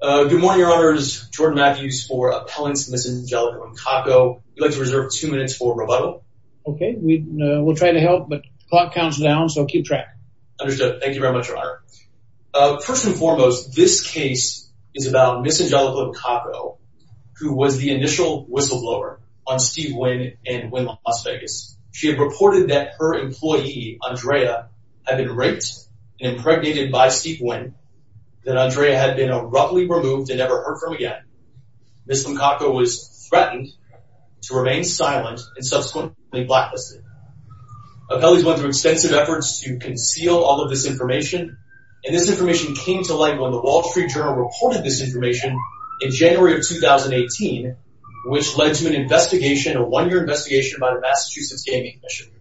Good morning, your honors. Jordan Matthews for appellants Miss Angelica Limcaco. You'd like to reserve two minutes for rebuttal. Okay, we'll try to help, but clock counts down, so keep track. Understood. Thank you very much, your honor. First and foremost, this case is about Miss Angelica Limcaco, who was the initial whistleblower on Steve Wynn and Wynn Las Vegas. She had reported that her employee, Andrea, had been raped and impregnated by Steve Wynn, that Andrea had been abruptly removed and never heard from again. Miss Limcaco was threatened to remain silent and subsequently blacklisted. Appellees went through extensive efforts to conceal all of this information, and this information came to light when the Wall Street Journal reported this information in January of 2018, which led to an investigation, a one-year investigation by the Massachusetts Gaming Commission.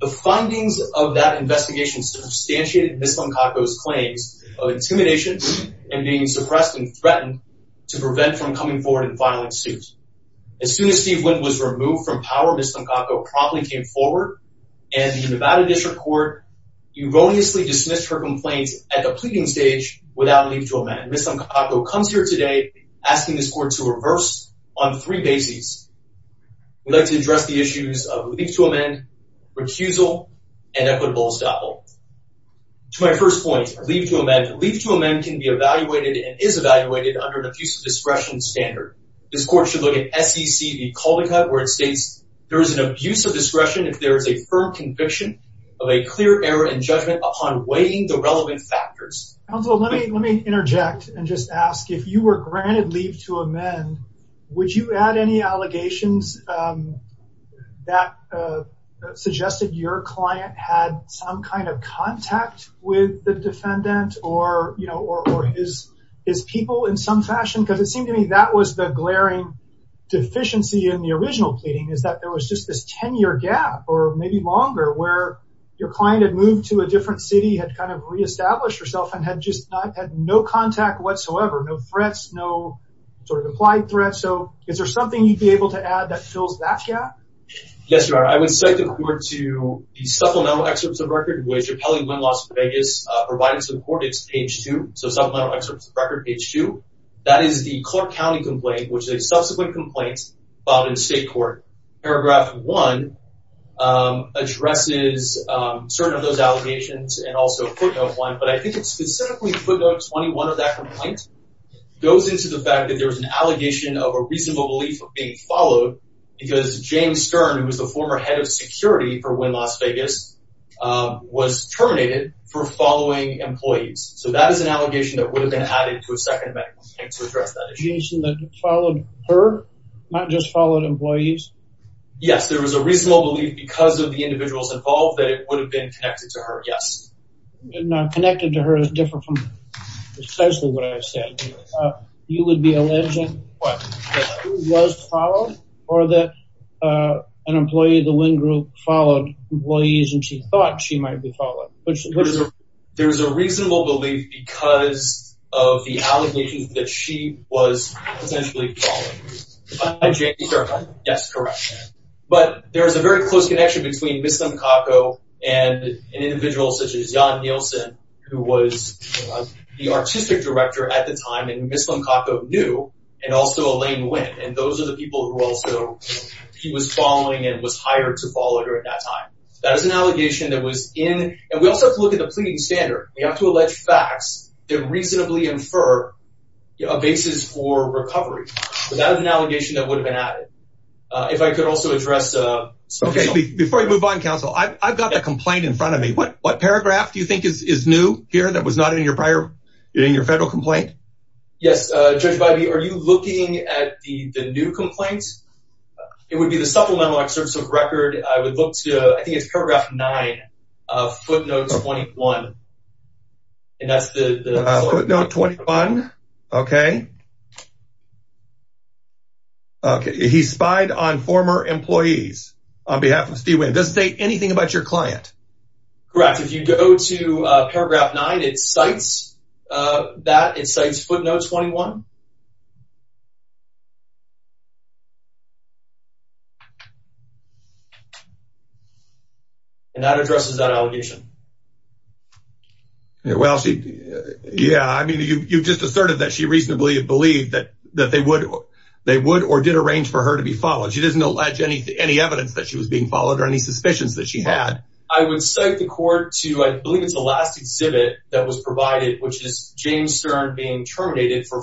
The findings of that investigation substantiated Miss Limcaco's claims of intimidation and being suppressed and threatened to prevent from coming forward and filing suit. As soon as Steve Wynn was removed from power, Miss Limcaco promptly came forward, and the Nevada District Court erroneously dismissed her complaints at the pleading stage without a leave to amend. Miss Limcaco comes here today asking this court to reverse on three bases. We'd like to address the issues of leave to amend, recusal, and equitable estoppel. To my first point, leave to amend. Leave to amend can be evaluated and is evaluated under an abuse of discretion standard. This court should look at SEC v. Caldecott, where it states there is an abuse of discretion if there is a firm conviction of a clear error in judgment upon weighing the relevant factors. Counselor, let me interject and just ask, if you were suggested your client had some kind of contact with the defendant or, you know, or his people in some fashion, because it seemed to me that was the glaring deficiency in the original pleading, is that there was just this 10-year gap, or maybe longer, where your client had moved to a different city, had kind of reestablished herself, and had just not had no contact whatsoever, no threats, no sort of applied threats. So is there something you'd be able to add that fills that gap? Yes, Your Honor. I would cite the court to the supplemental excerpts of record, which Appellee Lynn Las Vegas provided to the court. It's page 2, so supplemental excerpts of record, page 2. That is the Clark County complaint, which is a subsequent complaint filed in state court. Paragraph 1 addresses certain of those allegations and also footnote 1, but I think it's specifically footnote 21 of that complaint goes into the fact that there's an allegation of a because James Stern, who was the former head of security for Lynn Las Vegas, was terminated for following employees. So that is an allegation that would have been added to a second amendment to address that issue. The reason that followed her, not just followed employees? Yes, there was a reasonable belief, because of the individuals involved, that it would have been connected to her, yes. Connected to her is different from precisely what I said. You would be alleging that she was followed, or that an employee of the Lynn group followed employees and she thought she might be followed? There's a reasonable belief because of the allegations that she was potentially followed. By James Stern? Yes, correct. But there's a very close connection between Ms. Lemkako and an individual such as Jon Nielsen, who was the artistic director at the time, and Ms. Lemkako knew, and also Elaine who also, he was following and was hired to follow her at that time. That is an allegation that was in, and we also have to look at the pleading standard. We have to allege facts that reasonably infer a basis for recovery. So that is an allegation that would have been added. If I could also address... Okay, before you move on, counsel, I've got a complaint in front of me. What paragraph do you think is new here that was not in your prior, in your federal complaint? Yes, Judge it would be the Supplemental Excerpts of Record, I would look to, I think it's paragraph 9 of footnote 21, and that's the... Footnote 21, okay. He spied on former employees on behalf of Steve Wynn. Does it say anything about your client? Correct. If you go to paragraph 9, it cites that, it cites footnote 21. And that addresses that allegation. Well, she, yeah, I mean you just asserted that she reasonably believed that, that they would, they would or did arrange for her to be followed. She doesn't allege any evidence that she was being followed or any suspicions that she had. I would cite the court to, I believe it's the last exhibit that was provided, which is James Stern being terminated for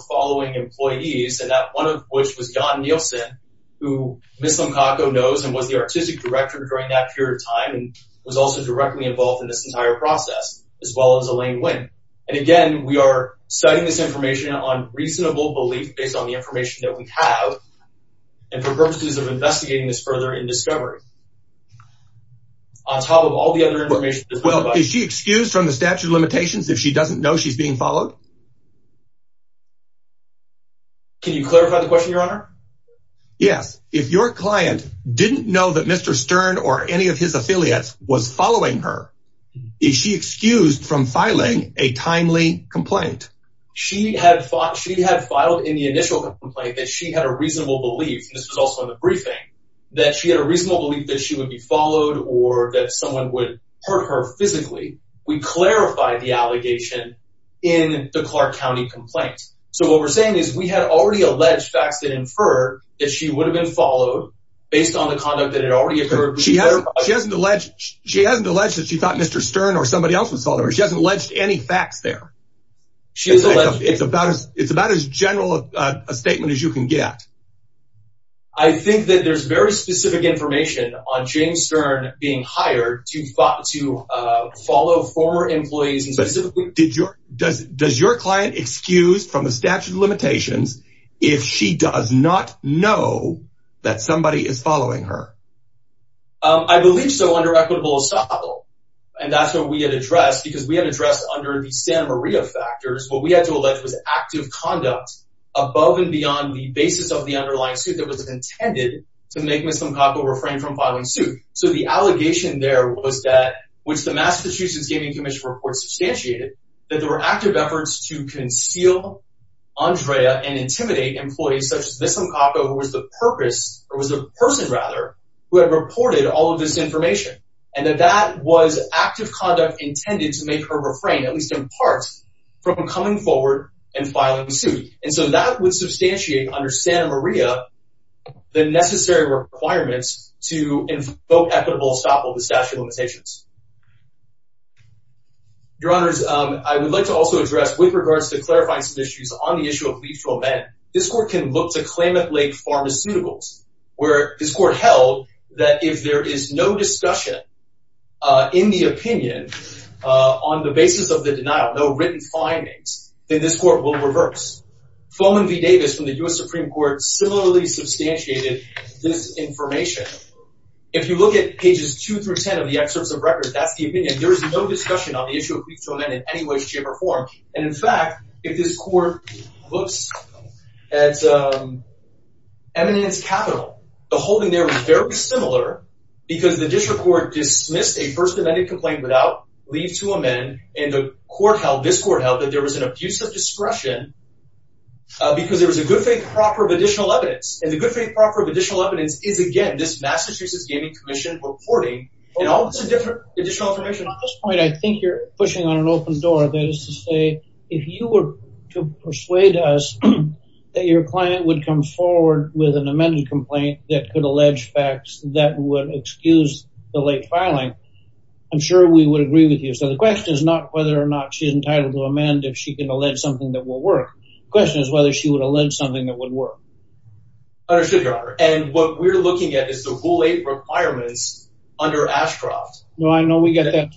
John Nielsen, who Ms. Simcoco knows and was the Artistic Director during that period of time and was also directly involved in this entire process, as well as Elaine Wynn. And again, we are citing this information on reasonable belief based on the information that we have, and for purposes of investigating this further in discovery. On top of all the other information... Well, is she excused from the statute of limitations if she doesn't know she's being followed? Can you clarify the question, Your Honor? Yes. If your client didn't know that Mr. Stern or any of his affiliates was following her, is she excused from filing a timely complaint? She had thought, she had filed in the initial complaint that she had a reasonable belief, this was also in the briefing, that she had a reasonable belief that she would be followed or that someone would hurt her in the Clark County complaint. So what we're saying is we had already alleged facts that inferred that she would have been followed based on the conduct that had already occurred. She hasn't alleged that she thought Mr. Stern or somebody else was following her. She hasn't alleged any facts there. It's about as general a statement as you can get. I think that there's very specific information on James Stern being hired to follow former employees. Does your client excused from the statute of limitations if she does not know that somebody is following her? I believe so under equitable assault, and that's what we had addressed because we had addressed under the Santa Maria factors. What we had to allege was active conduct above and beyond the basis of the underlying suit that was intended to make Ms. Limcocco refrain from filing suit. So the allegation there was that, which the Massachusetts Gaming Commission report substantiated, that there were active efforts to conceal Andrea and intimidate employees such as Ms. Limcocco, who was the person who had reported all of this information, and that that was active conduct intended to make her refrain, at least in part, from coming forward and filing suit. And so that would substantiate under Santa Maria the necessary requirements to invoke equitable assault with the statute of limitations. Your Honors, I would like to also address, with regards to clarifying some issues on the issue of lethal men, this court can look to Klamath Lake Pharmaceuticals, where this court held that if there is no discussion in the opinion on the basis of the denial, no written findings, then this court will reverse. Floman V. Davis from the U.S. pages 2 through 10 of the excerpts of records, that's the opinion. There is no discussion on the issue of lethal men in any way, shape, or form. And in fact, if this court looks at Eminence Capital, the holding there was very similar because the district court dismissed a first amended complaint without leave to amend, and the court held, this court held, that there was an abuse of discretion because there was a good faith propper of additional evidence. And the good faith proper of additional evidence is, again, this Massachusetts Gaming Commission reporting, and all this is different additional information. At this point, I think you're pushing on an open door. That is to say, if you were to persuade us that your client would come forward with an amended complaint that could allege facts that would excuse the late filing, I'm sure we would agree with you. So the question is not whether or not she's entitled to amend if she can allege something that will work. The question is whether she would allege something that would work. Understood, Your Honor. And what we're looking at is the Rule 8 requirements under Ashcroft. No, I know we get that.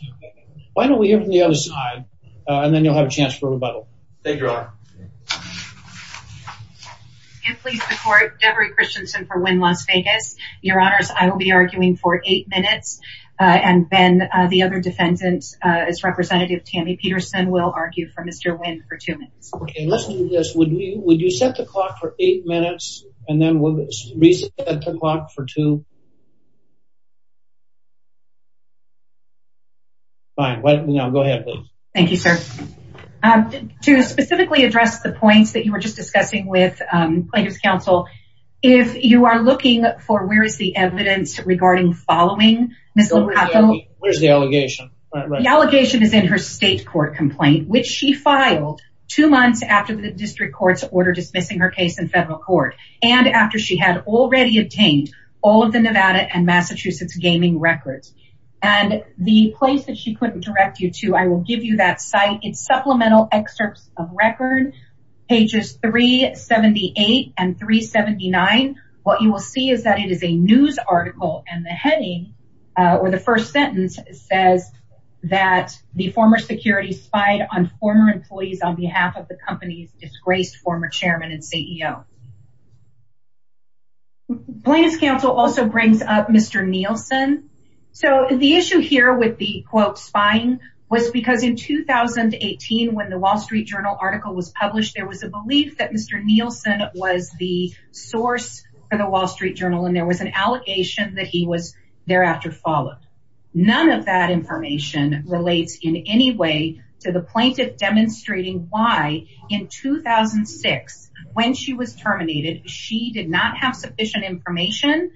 Why don't we hear from the other side, and then you'll have a chance for rebuttal. Thank you, Your Honor. Can't please the court, Debra Christensen for Wynn Las Vegas. Your Honors, I will be arguing for eight minutes, and then the other defendant, his representative, Tammy Peterson, will argue for Mr. Wynn for two minutes. Okay, let's do this. Would you set the clock for eight minutes, and then we'll reset the time. Fine, go ahead, please. Thank you, sir. To specifically address the points that you were just discussing with Plaintiff's Counsel, if you are looking for where is the evidence regarding following Ms. O'Connell. Where's the allegation? The allegation is in her state court complaint, which she filed two months after the district court's order dismissing her case in federal court, and after she had already obtained all of the Nevada and Massachusetts gaming records. And the place that she couldn't direct you to, I will give you that site. It's Supplemental Excerpts of Record, pages 378 and 379. What you will see is that it is a news article, and the heading, or the first sentence, says that the former security spied on former employees on behalf of the company's employees. Plaintiff's Counsel also brings up Mr. Nielsen. So the issue here with the quote, spying, was because in 2018 when the Wall Street Journal article was published, there was a belief that Mr. Nielsen was the source for the Wall Street Journal, and there was an allegation that he was thereafter followed. None of that information relates in any way to the plaintiff demonstrating why in 2006, when she was terminated, she did not have sufficient information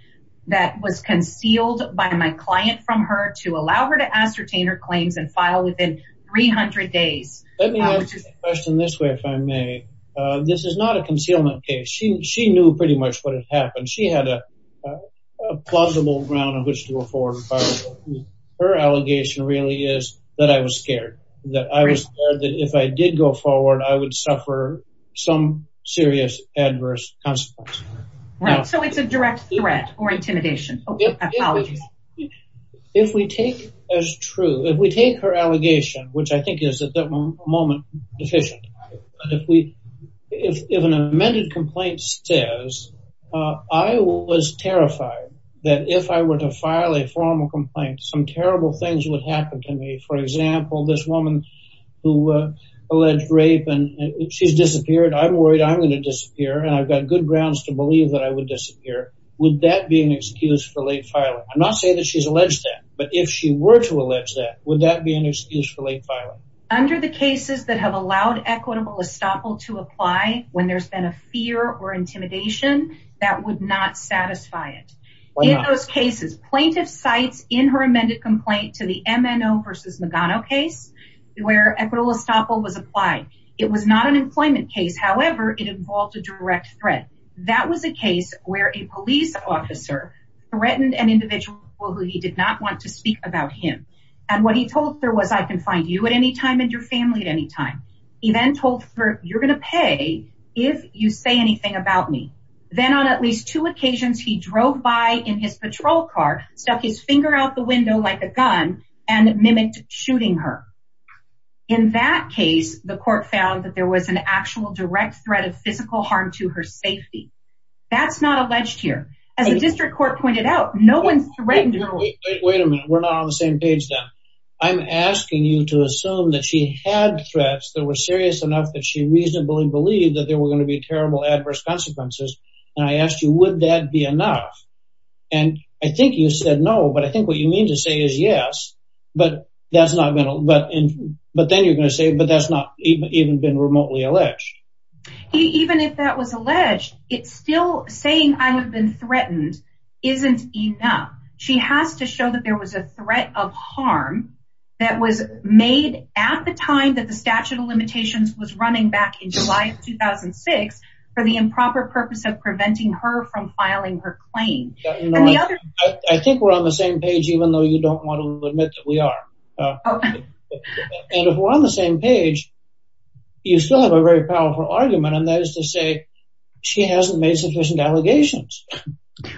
that was concealed by my client from her to allow her to ascertain her claims and file within 300 days. Let me ask you a question this way, if I may. This is not a concealment case. She knew pretty much what had happened. She had a plausible ground on which to if I did go forward, I would suffer some serious adverse consequences. Right, so it's a direct threat or intimidation. If we take as true, if we take her allegation, which I think is at that moment, deficient, if an amended complaint says, I was terrified that if I were to file a formal complaint, some terrible things would happen to me. For example, this alleged rape, and she's disappeared. I'm worried I'm going to disappear. And I've got good grounds to believe that I would disappear. Would that be an excuse for late filing? I'm not saying that she's alleged that, but if she were to allege that, would that be an excuse for late filing? Under the cases that have allowed equitable estoppel to apply when there's been a fear or intimidation, that would not satisfy it. In those cases, plaintiff cites in her amended complaint to the MNO versus Magano case, where equitable estoppel was applied. It was not an employment case. However, it involved a direct threat. That was a case where a police officer threatened an individual who he did not want to speak about him. And what he told her was, I can find you at any time and your family at any time. He then told her you're going to pay if you say anything about me. Then on at least two occasions, he drove by in his patrol car, stuck his finger out the window like a gun, and mimicked shooting her. In that case, the court found that there was an actual direct threat of physical harm to her safety. That's not alleged here. As the district court pointed out, no one's threatened her. Wait a minute, we're not on the same page then. I'm asking you to assume that she had threats that were serious enough that she reasonably believed that there were going to be terrible adverse consequences. And I asked you, would that be enough? And I think you said no. But I think what you mean to say is yes. But that's not going to but but then you're going to say but that's not even even been remotely alleged. Even if that was alleged, it's still saying I have been threatened isn't enough. She has to show that there was a threat of harm that was made at the time that the statute of limitations was running back in July of 2006. For the claim. I think we're on the same page, even though you don't want to admit that we are. And if we're on the same page, you still have a very powerful argument. And that is to say, she hasn't made sufficient allegations.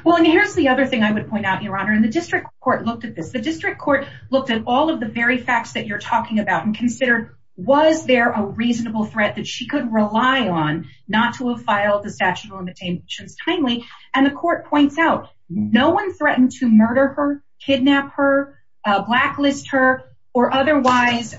Well, and here's the other thing I would point out, Your Honor, in the district court looked at this, the district court looked at all of the very facts that you're talking about and consider, was there a reasonable threat that she could rely on not to have filed the statute of limitations timely. And the court points out, no one threatened to murder her, kidnap her, blacklist her, or otherwise,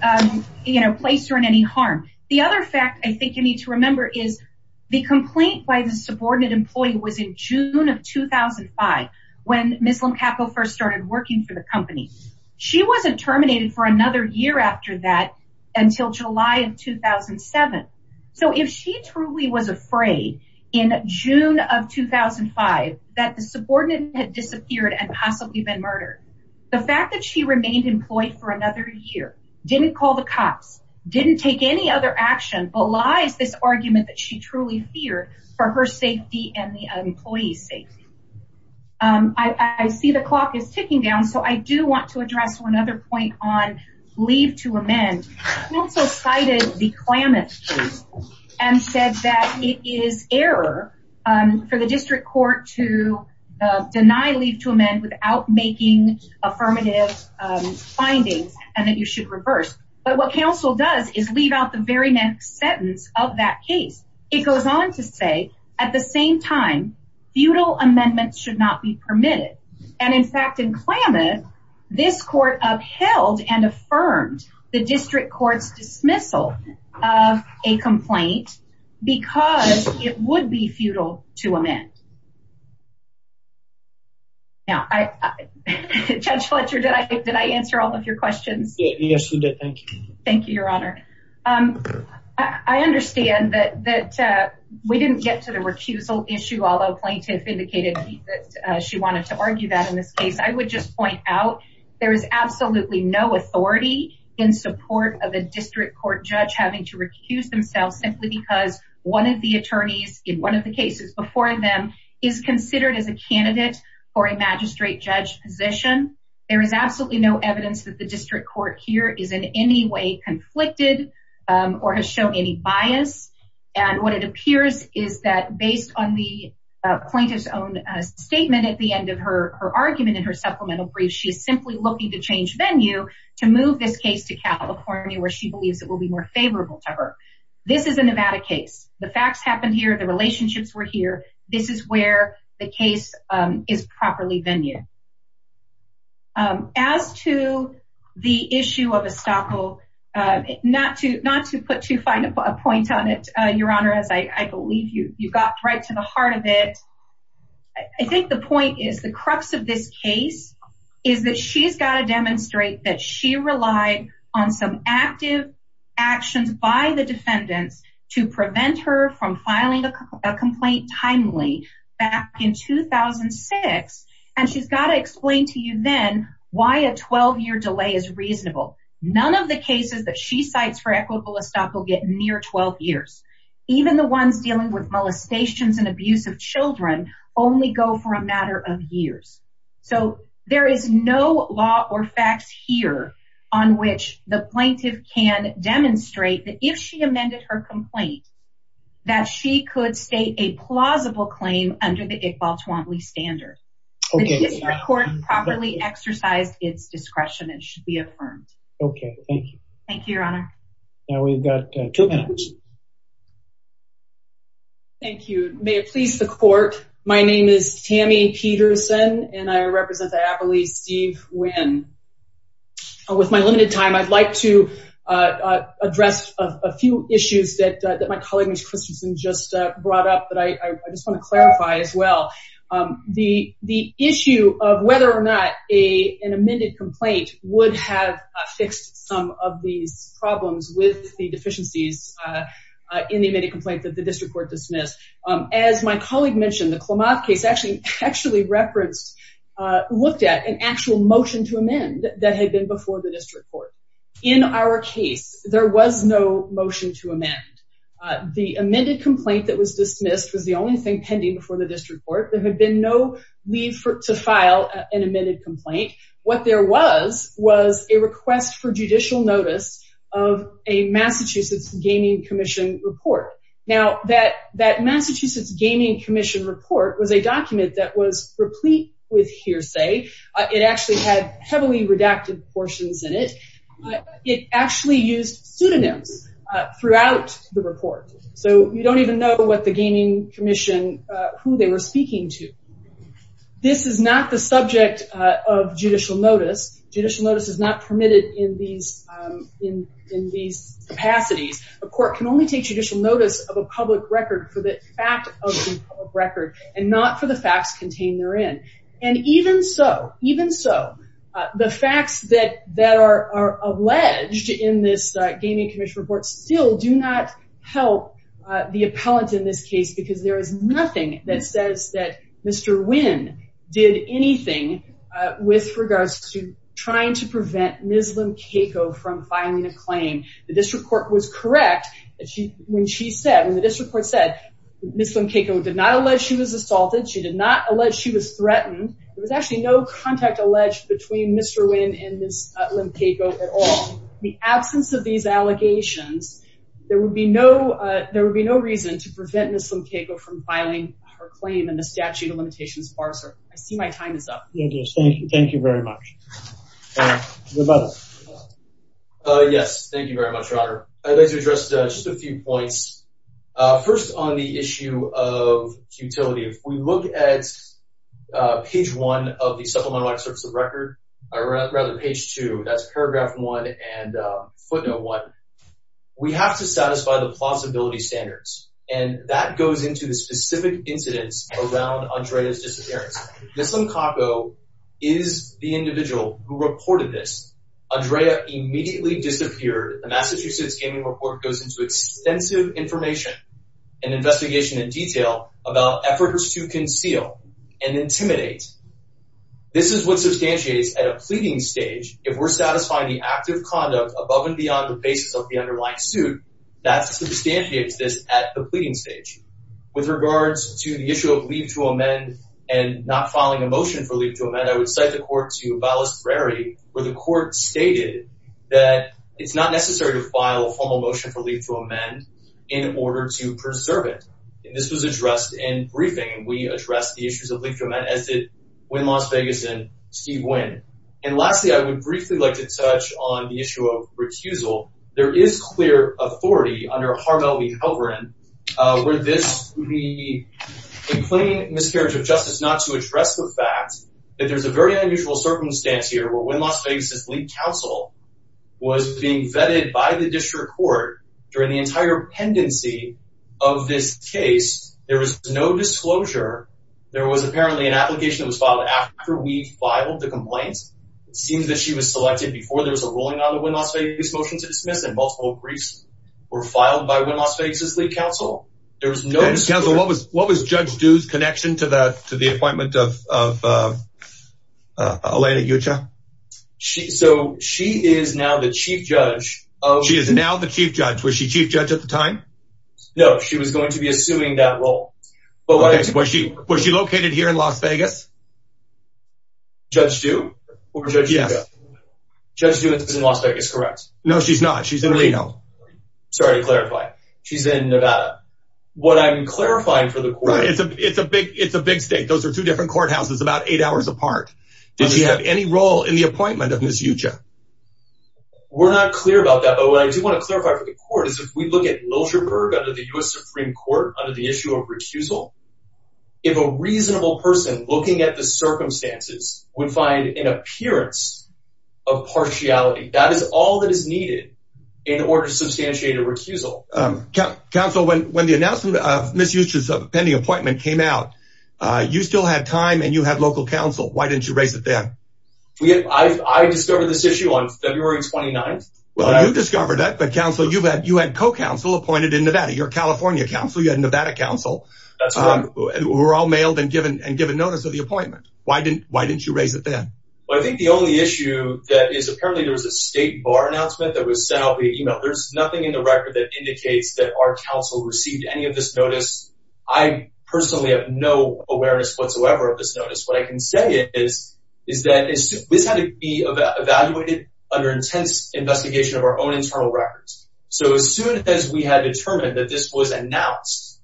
you know, place her in any harm. The other fact I think you need to remember is the complaint by the subordinate employee was in June of 2005. When Muslim capital first started working for the company. She wasn't terminated for another year after that, until July of 2007. So if she truly was afraid in June of 2005, that the subordinate had disappeared and possibly been murdered. The fact that she remained employed for another year, didn't call the cops, didn't take any other action belies this argument that she truly feared for her safety and the employee's safety. I see the clock is ticking down. So I do want to address one other point on leave to amend. Council cited the Klamath case and said that it is error for the district court to deny leave to amend without making affirmative findings and that you should reverse. But what council does is leave out the very next sentence of that case. It goes on to say, at the same time, feudal amendments should not be permitted. And in fact, in Klamath, this court upheld and affirmed the district court's dismissal of a complaint, because it would be feudal to amend. Now, Judge Fletcher, did I did I answer all of your questions? Yes, you did. Thank you. Thank you, Your Honor. I understand that we didn't get to the recusal issue, although plaintiff indicated that she wanted to argue that in this case, I would just point out, there is absolutely no authority in support of a district court judge having to recuse themselves simply because one of the attorneys in one of the cases before them is considered as a candidate for a magistrate judge position. There is absolutely no evidence that the district court here is in any way conflicted or has shown any bias. And what it appears is that based on the plaintiff's own statement at the end of her argument in her supplemental brief, she is simply looking to change venue to move this case to California where she believes it will be more favorable to her. This is a Nevada case. The facts happened here, the relationships were here. This is where the case is properly venue. As to the issue of estoppel, not to not to put too fine a point on it, Your to the heart of it. I think the point is the crux of this case is that she's got to demonstrate that she relied on some active actions by the defendants to prevent her from filing a complaint timely back in 2006. And she's got to explain to you then why a 12 year delay is reasonable. None of the cases that she cites for equitable estoppel get near 12 years. Even the ones dealing with molestations and abuse of Children only go for a matter of years. So there is no law or facts here on which the plaintiff can demonstrate that if she amended her complaint that she could state a plausible claim under the Iqbal Twombly standard court properly exercised its discretion and should be affirmed. Okay, thank you. Thank you, Your Honor. Now we've got two minutes. Thank you. May it please the court. My name is Tammy Peterson, and I represent the Appalachian Steve Wynn. With my limited time, I'd like to address a few issues that my colleague, Ms. Christensen, just brought up that I just want to clarify as well. The issue of whether or not an amended complaint would have fixed some of these problems with the deficiencies in the amended complaint that the district court dismissed. As my colleague mentioned, the Klamath case actually referenced, looked at an actual motion to amend that had been before the district court. In our case, there was no motion to amend. The amended complaint that was dismissed was the only thing pending before the district court. There had been no leave to file an amended complaint. What there was was a request for judicial notice of a Massachusetts Gaming Commission report. Now that Massachusetts Gaming Commission report was a document that was replete with hearsay. It actually had heavily redacted portions in it. It actually used pseudonyms throughout the report. So you don't even know what the Gaming Commission, who they were speaking to. This is not the subject of judicial notice. Judicial notice is not permitted in these capacities. A court can only take judicial notice of a public record for the fact of the public record and not for the facts contained therein. Even so, the facts that are alleged in this Gaming Commission report still do not help the appellant in this case because there is nothing that says that Mr. Wynn did anything with regards to trying to prevent Ms. Lim-Caco from filing a claim. The district court was correct when the district court said Ms. Lim-Caco did not allege she was assaulted. She did not allege she was threatened. There was actually no contact alleged between Mr. Wynn and Ms. Lim-Caco at all. In the absence of these allegations, there would be no reason to prevent Ms. Lim-Caco from filing her claim in the statute of limitations parser. I see my time is up. Thank you. Thank you. Thank you very much. Yes. Thank you very much, Robert. I'd like to address just a few points. First, on the issue of futility, if we look at page one of the Supplemental Act Certificate of Record, or rather page two, that's paragraph one and footnote one, we have to satisfy the plausibility standards, and that goes into the is the individual who reported this. Andrea immediately disappeared. The Massachusetts Gaming Report goes into extensive information and investigation in detail about efforts to conceal and intimidate. This is what substantiates at a pleading stage, if we're satisfying the act of conduct above and beyond the basis of the underlying suit, that substantiates this at the pleading stage. With regards to the issue of leave to amend and not filing a motion for leave to amend, I would cite the court to Balestrary, where the court stated that it's not necessary to file a formal motion for leave to amend in order to preserve it. And this was addressed in briefing, and we addressed the issues of leave to amend, as did Gwynne Las Vegas and Steve Gwynne. And lastly, I would briefly like to touch on the issue of recusal. There is clear authority under Harmel v. Halperin where this would be in plain miscarriage of justice not to that there's a very unusual circumstance here, where Gwynne Las Vegas' lead counsel was being vetted by the district court during the entire pendency of this case. There was no disclosure. There was apparently an application that was filed after we filed the complaint. It seems that she was selected before there was a ruling on the Gwynne Las Vegas motion to dismiss, and multiple briefs were filed by Gwynne Las Vegas' lead counsel. There was no... Counsel, what was Judge Dew's connection to the appointment of Elena Yucha? So, she is now the chief judge of... She is now the chief judge. Was she chief judge at the time? No, she was going to be assuming that role. Okay, was she located here in Las Vegas? Judge Dew? Or Judge Yucha? Judge Dew is in Las Vegas, correct? No, she's not. She's in Reno. Sorry to clarify. She's in Nevada. What I'm clarifying for the court... Right, it's a big state. Those are two different courthouses about eight hours apart. Did she have any role in the appointment of Ms. Yucha? We're not clear about that, but what I do want to clarify for the court is if we look at Milcher Berg under the U.S. Supreme Court, under the issue of recusal, if a reasonable person looking at the circumstances would find an under-substantiated recusal... Counsel, when the announcement of Ms. Yucha's pending appointment came out, you still had time and you had local counsel. Why didn't you raise it then? I discovered this issue on February 29th. Well, you discovered it, but, counsel, you had co-counsel appointed in Nevada. You're a California counsel. You had Nevada counsel. That's correct. Who were all mailed and given notice of the appointment. Why didn't you raise it then? Well, I think the only issue that is... Apparently, there was a state bar announcement that was sent out via email. There's nothing in the record that indicates that our counsel received any of this notice. I personally have no awareness whatsoever of this notice. What I can say is that this had to be evaluated under intense investigation of our own internal records. So as soon as we had determined that this was announced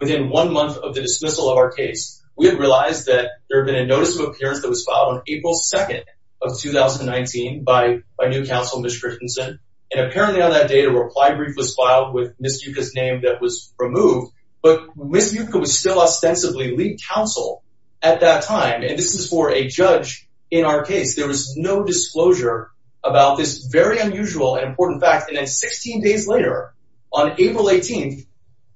within one month of the dismissal of our case, we had realized that there had been a notice of appearance that was filed on April 2nd of 2019 by new counsel, Ms. Christensen. And apparently on that day, a reply brief was filed with Ms. Yucca's name that was removed. But Ms. Yucca was still ostensibly lead counsel at that time. And this is for a judge in our case. There was no disclosure about this very unusual and important fact. And then 16 days later, on April 18th,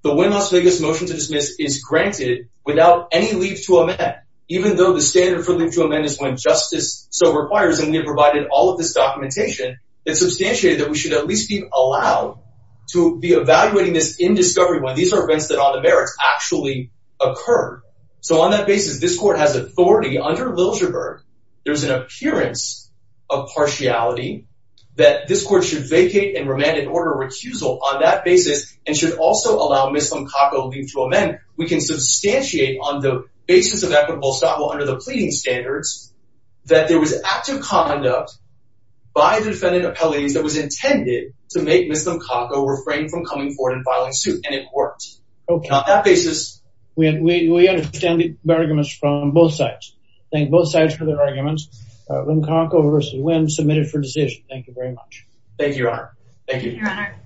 the Win Las Vegas motion to dismiss is granted without any leave to amend, even though the standard for leave to amend is when justice so requires. And we have provided all of this documentation that substantiated that we should at least be allowed to be evaluating this in discovery when these are events that on the merits actually occur. So on that basis, this court has authority under Liljeburg. There's an appearance of partiality that this court should vacate and remand in order of recusal on that basis and should also allow Ms. Lomcaco leave to amend. We can substantiate on the basis of equitable establishment under the conduct by the defendant appellees that was intended to make Ms. Lomcaco refrain from coming forward and filing suit. And it worked on that basis. We understand the arguments from both sides. Thank both sides for their arguments. Lomcaco v. Win, submitted for decision. Thank you very much. Thank you, Your Honor. Thank you, Your Honor.